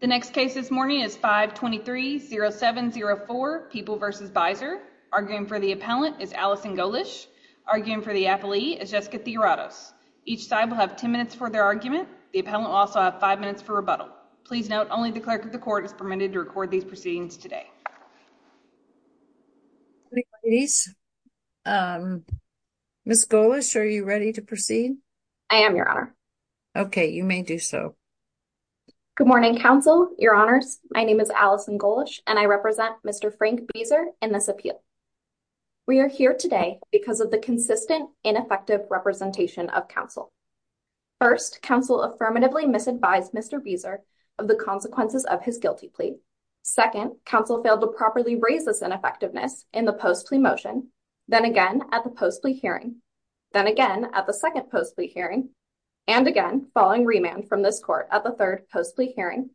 The next case this morning is 523-0704, People v. Bieser. Arguing for the appellant is Allison Golish. Arguing for the appellee is Jessica Theoratos. Each side will have 10 minutes for their argument. The appellant will also have 5 minutes for rebuttal. Please note, only the clerk of the court is permitted to record these proceedings today. Ladies, Ms. Golish, are you ready to proceed? I am, Your Honor. Okay, you may do so. Good morning, counsel, Your Honors. My name is Allison Golish, and I represent Mr. Frank Bieser in this appeal. We are here today because of the consistent, ineffective representation of counsel. First, counsel affirmatively misadvised Mr. Bieser of the consequences of his guilty plea. Second, counsel failed to properly raise this ineffectiveness in the post-plea motion, then again at the post-plea hearing, then again at the second post-plea hearing, and again following remand from this court at the third post-plea hearing.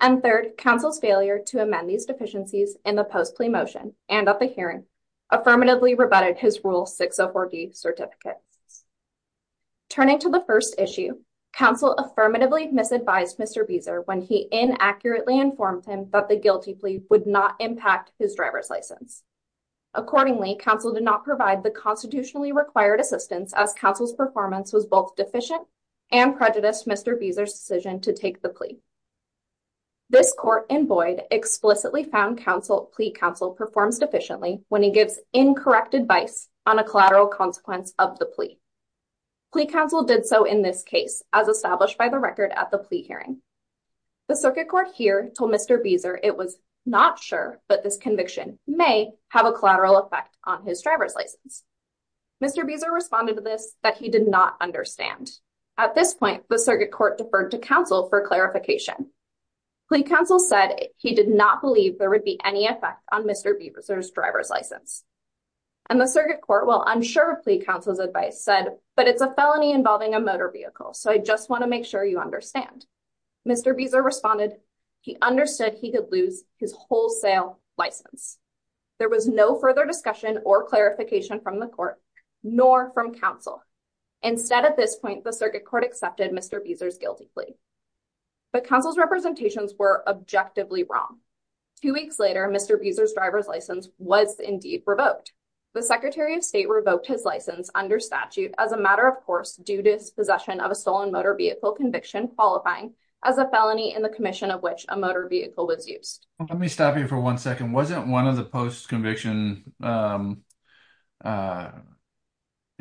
And third, counsel's failure to amend these deficiencies in the post-plea motion and at the hearing affirmatively rebutted his Rule 604D certificate. Turning to the first issue, counsel affirmatively misadvised Mr. Bieser when he inaccurately informed him that the guilty plea would not impact his driver's license. Accordingly, counsel did not provide the constitutionally required assistance as counsel's performance was both deficient and prejudiced Mr. Bieser's decision to take the plea. This court in Boyd explicitly found plea counsel performs deficiently when he gives incorrect advice on a collateral consequence of the plea. Plea counsel did so in this case, as established by the record at the plea hearing. The circuit court here told Mr. Bieser it was not sure that this conviction may have a collateral effect on his driver's license. Mr. Bieser responded to this that he did not understand. At this point, the circuit court deferred to counsel for clarification. Plea counsel said he did not believe there would be any effect on Mr. Bieser's driver's license. And the circuit court, while unsure of plea counsel's advice, said, but it's a felony involving a motor vehicle, so I just want to make sure you understand. Mr. Bieser responded he understood he could lose his wholesale license. There was no further discussion or clarification from the court, nor from counsel. Instead, at this point, the circuit court accepted Mr. Bieser's guilty plea. But counsel's representations were objectively wrong. Two weeks later, Mr. Bieser's driver's license was indeed revoked. The Secretary of State revoked his license under statute as a matter of course, due to his possession of a stolen motor vehicle conviction qualifying as a felony in the commission of which a motor vehicle was used. Let me stop you for one second. Wasn't one of the post-conviction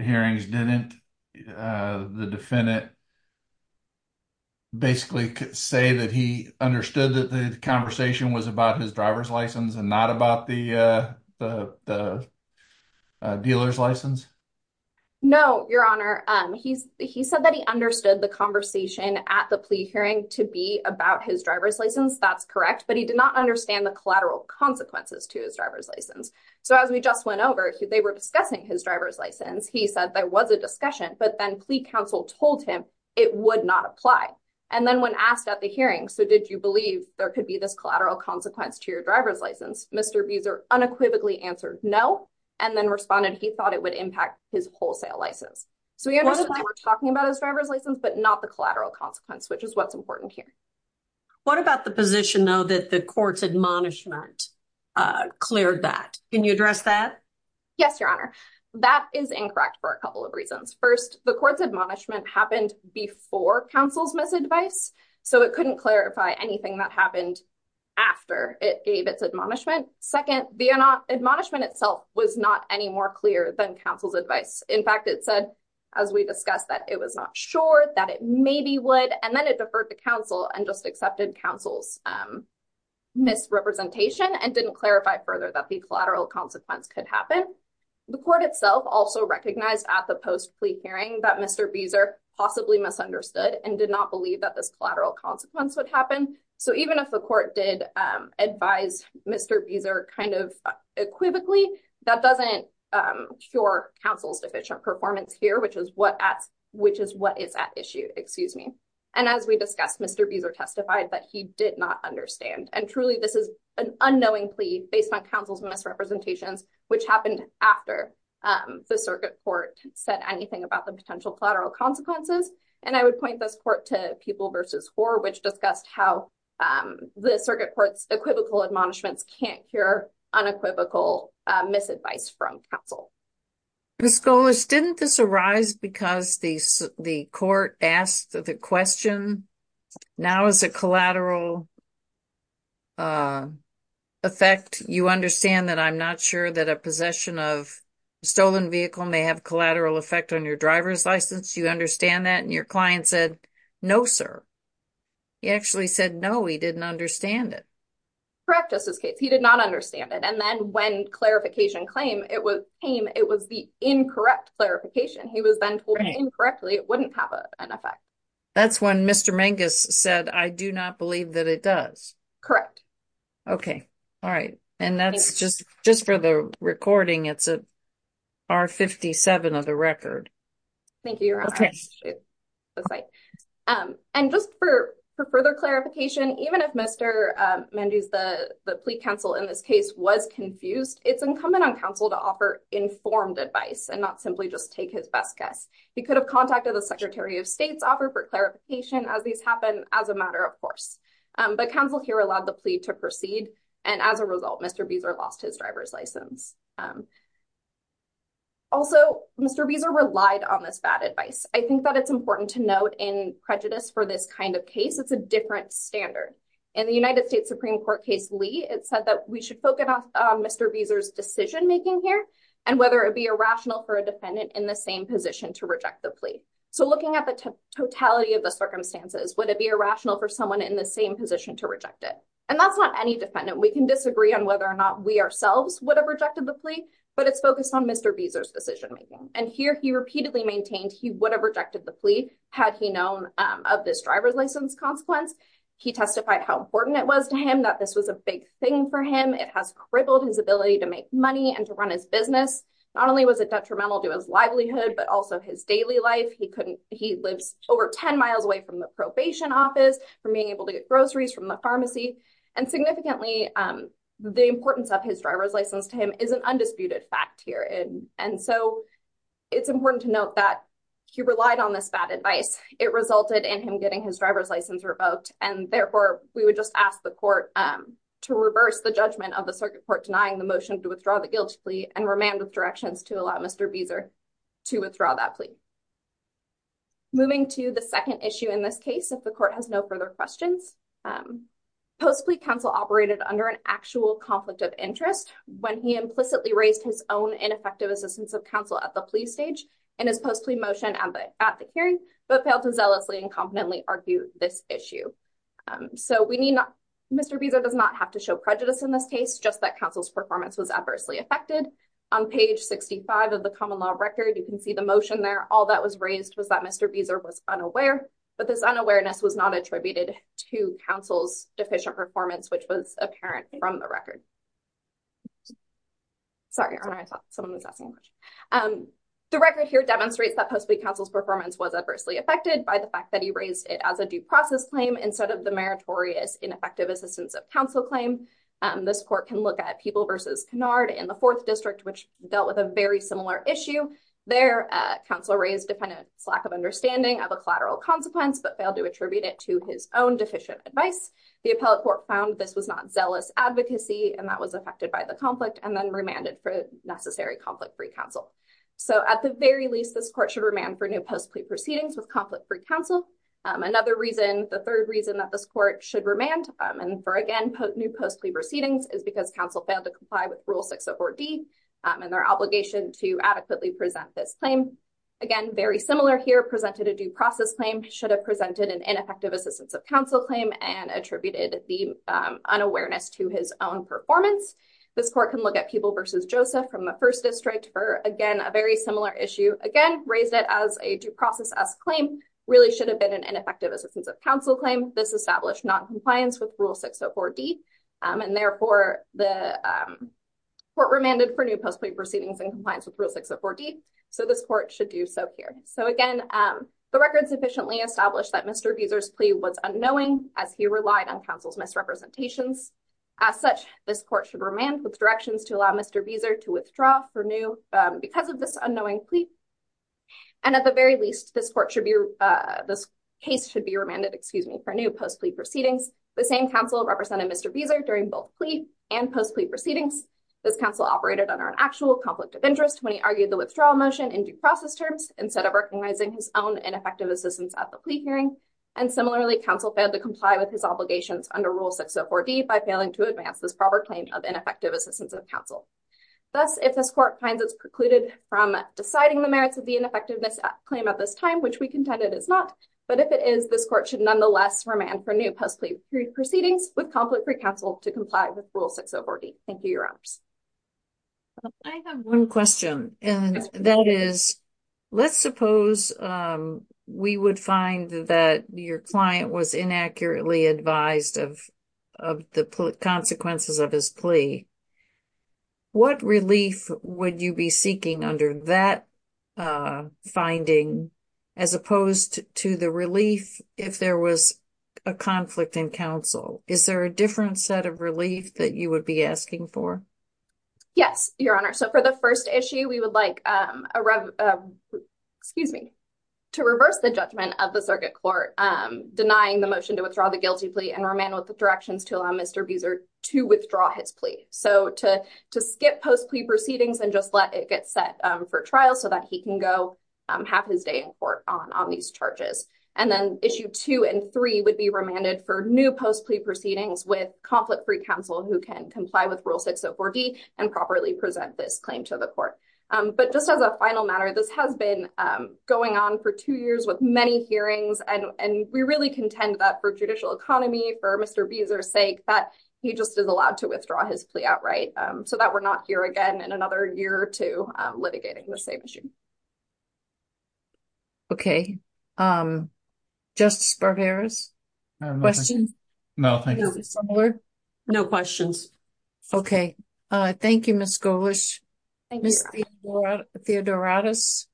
hearings didn't the defendant basically say that he understood that the conversation was about his driver's license and not about the dealer's license? No, Your Honor. He said that he understood the conversation at the plea hearing to be about his driver's license. That's correct. But he did not understand the collateral consequences to his driver's license. So as we just went over, they were discussing his driver's license. He said there was a discussion, but then plea counsel told him it would not apply. And then when asked at the hearing, so did you believe there could be this collateral consequence to your driver's license? Mr. Bieser unequivocally answered no, and then responded he thought it would impact his wholesale license. So he understood that we're talking about his driver's license, but not the collateral consequence, which is what's important here. What about the position, though, that the court's admonishment cleared that? Can you address that? Yes, Your Honor. That is incorrect for a couple of reasons. First, the court's admonishment happened before counsel's misadvice, so it couldn't clarify anything that happened after it gave its admonishment. Second, the admonishment itself was not any more clear than counsel's advice. In fact, it said, as we discussed, that it was not sure, that it maybe would. And then it deferred to counsel and just accepted counsel's misrepresentation and didn't clarify further that the collateral consequence could happen. The court itself also recognized at the post-plea hearing that Mr. Bieser possibly misunderstood and did not believe that this collateral consequence would happen. So even if the court did advise Mr. Bieser kind of equivocally, that doesn't cure counsel's deficient performance here, which is what is at issue. And as we discussed, Mr. Bieser testified that he did not understand. And truly, this is an unknowing plea based on counsel's misrepresentations, which happened after the circuit court said anything about the potential collateral consequences. And I would point this court to Pupil v. Hoar, which discussed how the circuit court's equivocal admonishments can't cure unequivocal misadvice from counsel. Ms. Golish, didn't this arise because the court asked the question, now is it collateral effect? You understand that I'm not sure that a possession of a stolen vehicle may have collateral effect on your driver's license. Do you understand that? And your client said, no, sir. He actually said, no, he didn't understand it. Correct. That's his case. He did not understand it. And then when clarification came, it was the incorrect clarification. He was then told incorrectly it wouldn't have an effect. That's when Mr. Mangus said, I do not believe that it does. Correct. Okay. All right. And that's just for the recording. It's a R57 of the record. Thank you. And just for further clarification, even if Mr. Mangus, the plea counsel in this case was confused, it's incumbent on counsel to offer informed advice and not simply just take his best guess. He could have contacted the Secretary of State's offer for clarification as these happen as a matter of course. But counsel here allowed the plea to proceed. And as a result, Mr. Beazer lost his driver's license. Also, Mr. Beazer relied on this bad advice. I think that it's important to note in prejudice for this kind of case, it's a different standard. In the United States Supreme Court case, Lee, it said that we should focus on Mr. Beazer's decision making here and whether it be irrational for a defendant in the same position to reject the plea. So looking at the totality of the circumstances, would it be irrational for someone in the same position to reject it? And that's not any defendant. We can disagree on whether or not we ourselves would have rejected the plea, but it's focused on Mr. Beazer's decision making. And here he repeatedly maintained he would have rejected the plea had he known of this driver's license consequence. He testified how important it was to him that this was a big thing for him. It has crippled his ability to make money and to run his business. Not only was it detrimental to his livelihood, but also his daily life. He lives over 10 miles away from the probation office, from being able to get groceries from the pharmacy. And significantly, the importance of his driver's license to him is an undisputed fact here. And so it's important to note that he relied on this bad advice. It resulted in him getting his driver's license revoked. And therefore, we would just ask the court to reverse the judgment of the circuit court denying the motion to withdraw the guilty plea and remand with directions to allow Mr. Beazer to withdraw that plea. Moving to the second issue in this case, if the court has no further questions. Post-plea counsel operated under an actual conflict of interest when he implicitly raised his own ineffective assistance of counsel at the plea stage and his post-plea motion at the hearing, but failed to zealously and competently argue this issue. So we need not, Mr. Beazer does not have to show prejudice in this case, just that counsel's performance was adversely affected. On page 65 of the common law record, you can see the motion there. All that was raised was that Mr. Beazer was unaware. But this unawareness was not attributed to counsel's deficient performance, which was apparent from the record. Sorry, I thought someone was asking. The record here demonstrates that post-plea counsel's performance was adversely affected by the fact that he raised it as a due process claim instead of the meritorious ineffective assistance of counsel claim. This court can look at People v. Canard in the Fourth District, which dealt with a very similar issue there. Counsel raised defendant's lack of understanding of a collateral consequence, but failed to attribute it to his own deficient advice. The appellate court found this was not zealous advocacy and that was affected by the conflict and then remanded for necessary conflict-free counsel. So at the very least, this court should remand for new post-plea proceedings with conflict-free counsel. Another reason, the third reason that this court should remand for, again, new post-plea proceedings is because counsel failed to comply with Rule 604D and their obligation to adequately present this claim. Again, very similar here, presented a due process claim, should have presented an ineffective assistance of counsel claim and attributed the unawareness to his own performance. This court can look at People v. Joseph from the First District for, again, a very similar issue. Again, raised it as a due process-esque claim, really should have been an ineffective assistance of counsel claim. This established noncompliance with Rule 604D, and therefore the court remanded for new post-plea proceedings in compliance with Rule 604D. So this court should do so here. So again, the record sufficiently established that Mr. Vieser's plea was unknowing as he relied on counsel's misrepresentations. As such, this court should remand with directions to allow Mr. Vieser to withdraw for new, because of this unknowing plea. And at the very least, this court should be, this case should be remanded, excuse me, for new post-plea proceedings. The same counsel represented Mr. Vieser during both plea and post-plea proceedings. This counsel operated under an actual conflict of interest when he argued the withdrawal motion in due process terms instead of recognizing his own ineffective assistance at the plea hearing. And similarly, counsel failed to comply with his obligations under Rule 604D by failing to advance this proper claim of ineffective assistance of counsel. Thus, if this court finds it precluded from deciding the merits of the ineffectiveness claim at this time, which we contend it is not, but if it is, this court should nonetheless remand for new post-plea proceedings with conflict-free counsel to comply with Rule 604D. Thank you, Your Honors. I have one question. And that is, let's suppose we would find that your client was inaccurately advised of the consequences of his plea. What relief would you be seeking under that finding, as opposed to the relief if there was a conflict in counsel? Is there a different set of relief that you would be asking for? Yes, Your Honor. So for the first issue, we would like to reverse the judgment of the circuit court denying the motion to withdraw the guilty plea and remand with the directions to allow Mr. Vieser to withdraw his plea. So to skip post-plea proceedings and just let it get set for trial so that he can go have his day in court on these charges. And then issue two and three would be remanded for new post-plea proceedings with conflict-free counsel who can comply with Rule 604D and properly present this claim to the court. But just as a final matter, this has been going on for two years with many hearings, and we really contend that for judicial economy, for Mr. Vieser's sake, that he just is allowed to withdraw his plea outright so that we're not here again in another year or two litigating the same issue. Okay. Justice Barberas? Questions? No, thank you. Is it similar? No questions. Okay. Thank you, Ms. Golish. Thank you, Your Honor. Ms. Theodoratos?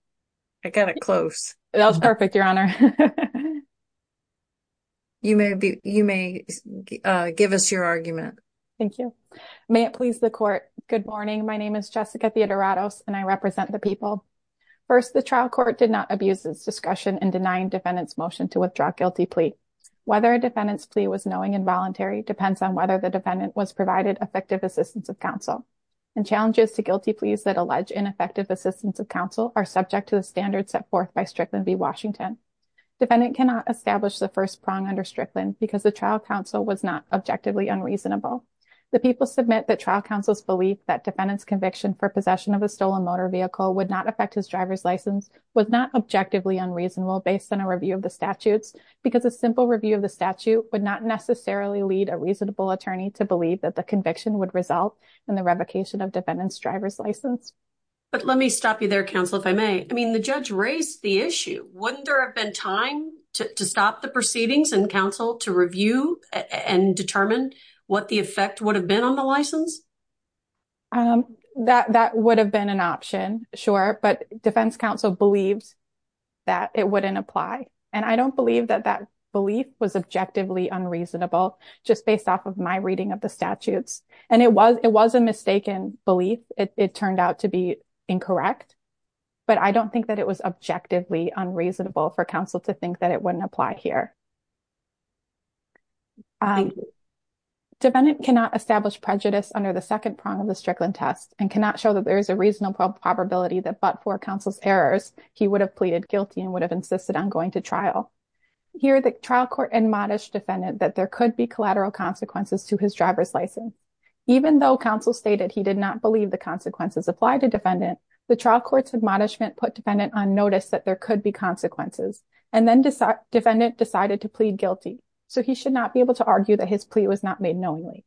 I got it close. That was perfect, Your Honor. You may give us your argument. Thank you. May it please the court. Good morning. My name is Jessica Theodoratos, and I represent the people. First, the trial court did not abuse its discretion in denying defendant's motion to withdraw a guilty plea. Whether a defendant's plea was knowing and voluntary depends on whether the defendant was provided effective assistance of counsel. And challenges to guilty pleas that allege ineffective assistance of counsel are subject to the standards set forth by Strickland v. Washington. Defendant cannot establish the first prong under Strickland because the trial counsel was not objectively unreasonable. The people submit that trial counsel's belief that defendant's conviction for possession of a stolen motor vehicle would not affect his driver's license was not objectively unreasonable based on a review of the statutes because a simple review of the statute would not necessarily lead a reasonable attorney to believe that the conviction would result in the revocation of defendant's driver's license. But let me stop you there, counsel, if I may. I mean, the judge raised the issue. Wouldn't there have been time to stop the proceedings and counsel to review and determine what the effect would have been on the license? That that would have been an option, sure, but defense counsel believes that it wouldn't apply. And I don't believe that that belief was objectively unreasonable just based off of my reading of the statutes. And it was it was a mistaken belief. It turned out to be incorrect. But I don't think that it was objectively unreasonable for counsel to think that it wouldn't apply here. Defendant cannot establish prejudice under the second prong of the Strickland test and cannot show that there is a reasonable probability that but for counsel's errors, he would have pleaded guilty and would have insisted on going to trial. Here, the trial court admonished defendant that there could be collateral consequences to his driver's license, even though counsel stated he did not believe the consequences apply to defendant. The trial court's admonishment put defendant on notice that there could be consequences and then defendant decided to plead guilty. So he should not be able to argue that his plea was not made knowingly.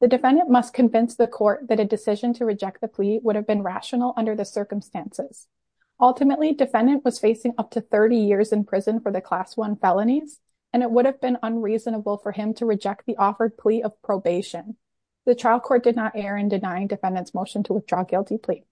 The defendant must convince the court that a decision to reject the plea would have been rational under the circumstances. Ultimately, defendant was facing up to 30 years in prison for the class one felonies, and it would have been unreasonable for him to reject the offered plea of probation. The trial court did not err in denying defendants motion to withdraw guilty plea.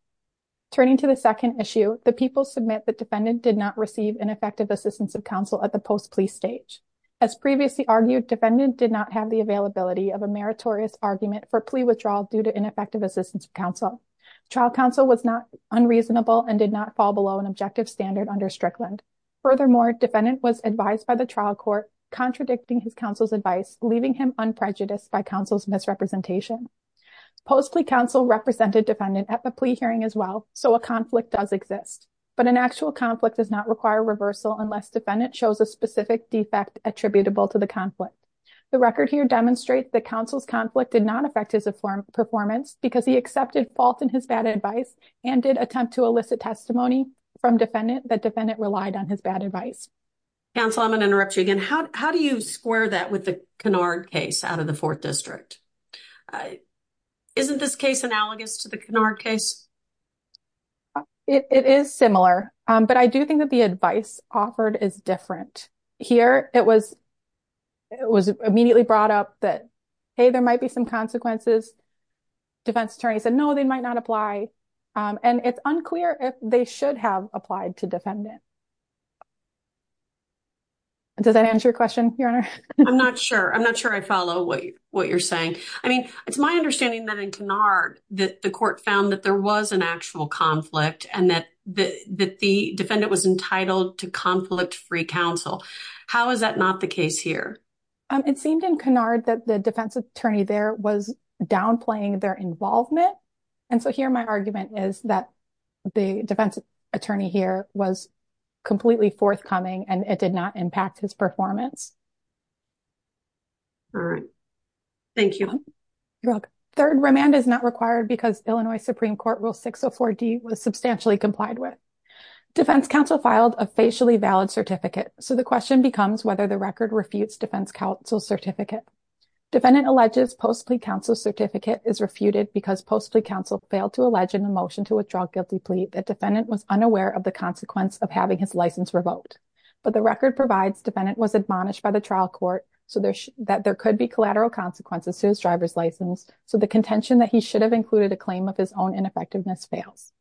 Turning to the second issue, the people submit that defendant did not receive ineffective assistance of counsel at the post plea stage. As previously argued, defendant did not have the availability of a meritorious argument for plea withdrawal due to ineffective assistance of counsel. Trial counsel was not unreasonable and did not fall below an objective standard under Strickland. Furthermore, defendant was advised by the trial court contradicting his counsel's advice, leaving him unprejudiced by counsel's misrepresentation. Post plea counsel represented defendant at the plea hearing as well. So a conflict does exist, but an actual conflict does not require reversal unless defendant shows a specific defect attributable to the conflict. The record here demonstrates that counsel's conflict did not affect his performance because he accepted fault in his bad advice and did attempt to elicit testimony from defendant that defendant relied on his bad advice. Counsel, I'm going to interrupt you again. How do you square that with the Kennard case out of the 4th District? Isn't this case analogous to the Kennard case? It is similar, but I do think that the advice offered is different. Here, it was immediately brought up that, hey, there might be some consequences. Defense attorney said, no, they might not apply. And it's unclear if they should have applied to defendant. Does that answer your question, Your Honor? I'm not sure. I'm not sure I follow what you're saying. I mean, it's my understanding that in Kennard that the court found that there was an actual conflict and that the defendant was entitled to conflict-free counsel. How is that not the case here? It seemed in Kennard that the defense attorney there was downplaying their involvement. And so here my argument is that the defense attorney here was completely forthcoming and it did not impact his performance. All right. Thank you. You're welcome. Third, remand is not required because Illinois Supreme Court Rule 604D was substantially complied with. Defense counsel filed a facially valid certificate. So the question becomes whether the record refutes defense counsel's certificate. Defendant alleges post-plea counsel's certificate is refuted because post-plea counsel failed to allege in the motion to withdraw guilty plea that defendant was unaware of the consequence of having his license revoked. But the record provides defendant was admonished by the trial court that there could be collateral consequences to his driver's license. So the contention that he should have included a claim of his own ineffectiveness fails.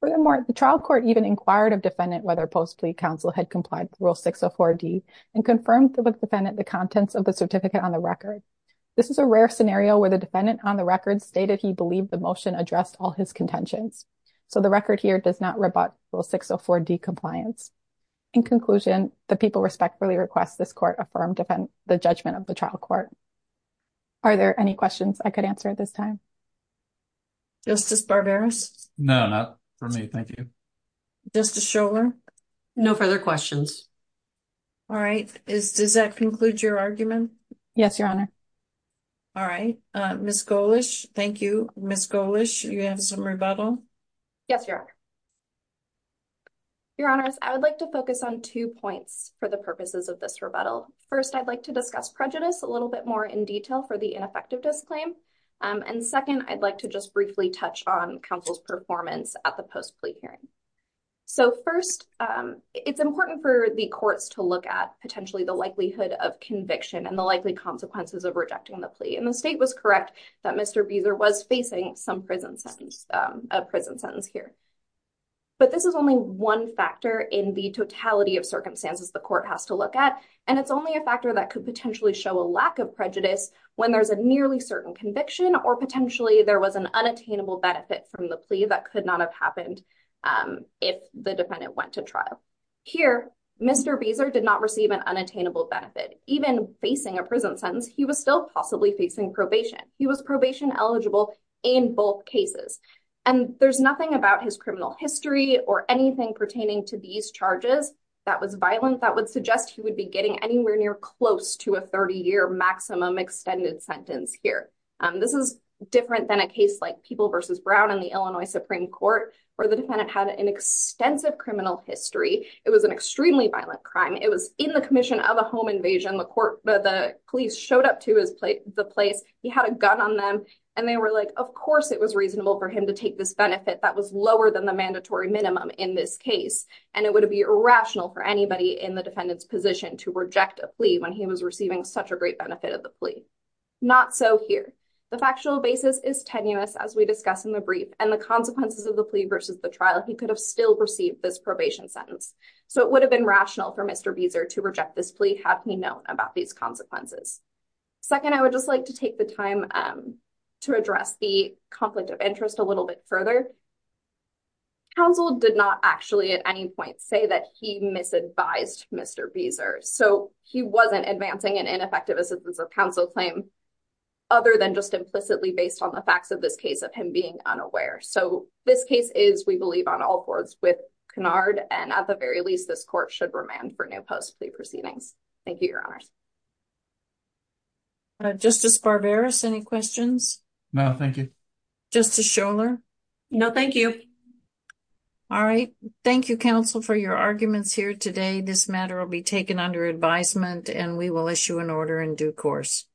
Furthermore, the trial court even inquired of defendant whether post-plea counsel had complied with Rule 604D and confirmed with defendant the contents of the certificate on the record. This is a rare scenario where the defendant on the record stated he believed the motion addressed all his contentions. So the record here does not rebut Rule 604D compliance. In conclusion, the people respectfully request this court affirm the judgment of the trial court. Are there any questions I could answer at this time? Justice Barberis? No, not for me. Thank you. Justice Scholar? No further questions. All right. Does that conclude your argument? Yes, Your Honor. All right. Ms. Golish, thank you. Ms. Golish, you have some rebuttal? Yes, Your Honor. Your Honors, I would like to focus on two points for the purposes of this rebuttal. First, I'd like to discuss prejudice a little bit more in detail for the ineffective disclaim. And second, I'd like to just briefly touch on counsel's performance at the post-plea hearing. So first, it's important for the courts to look at potentially the likelihood of conviction and the likely consequences of rejecting the plea. And the state was correct that Mr. Beazer was facing some prison sentence, a prison sentence here. But this is only one factor in the totality of circumstances the court has to look at, and it's only a factor that could potentially show a lack of prejudice when there's a nearly certain conviction or potentially there was an unattainable benefit from the plea that could not have happened if the defendant went to trial. Here, Mr. Beazer did not receive an unattainable benefit. Even facing a prison sentence, he was still possibly facing probation. He was probation eligible in both cases. And there's nothing about his criminal history or anything pertaining to these charges that was violent that would suggest he would be getting anywhere near close to a 30-year maximum extended sentence here. This is different than a case like People v. Brown in the Illinois Supreme Court where the defendant had an extensive criminal history. It was an extremely violent crime. It was in the commission of a home invasion. The police showed up to the place. He had a gun on them. And they were like, of course it was reasonable for him to take this benefit that was lower than the mandatory minimum in this case. And it would be irrational for anybody in the defendant's position to reject a plea when he was receiving such a great benefit of the plea. Not so here. The factual basis is tenuous, as we discussed in the brief. And the consequences of the plea versus the trial, he could have still received this probation sentence. So it would have been rational for Mr. Beazer to reject this plea had he known about these consequences. Second, I would just like to take the time to address the conflict of interest a little bit further. Counsel did not actually at any point say that he misadvised Mr. Beazer. So he wasn't advancing an ineffective assistance of counsel claim other than just implicitly based on the facts of this case of him being unaware. So this case is, we believe, on all boards with Cunard. And at the very least, this court should remand for new post plea proceedings. Thank you, Your Honors. Justice Barberis, any questions? No, thank you. Justice Scholar? No, thank you. All right. Thank you, counsel, for your arguments here today. This matter will be taken under advisement, and we will issue an order in due course.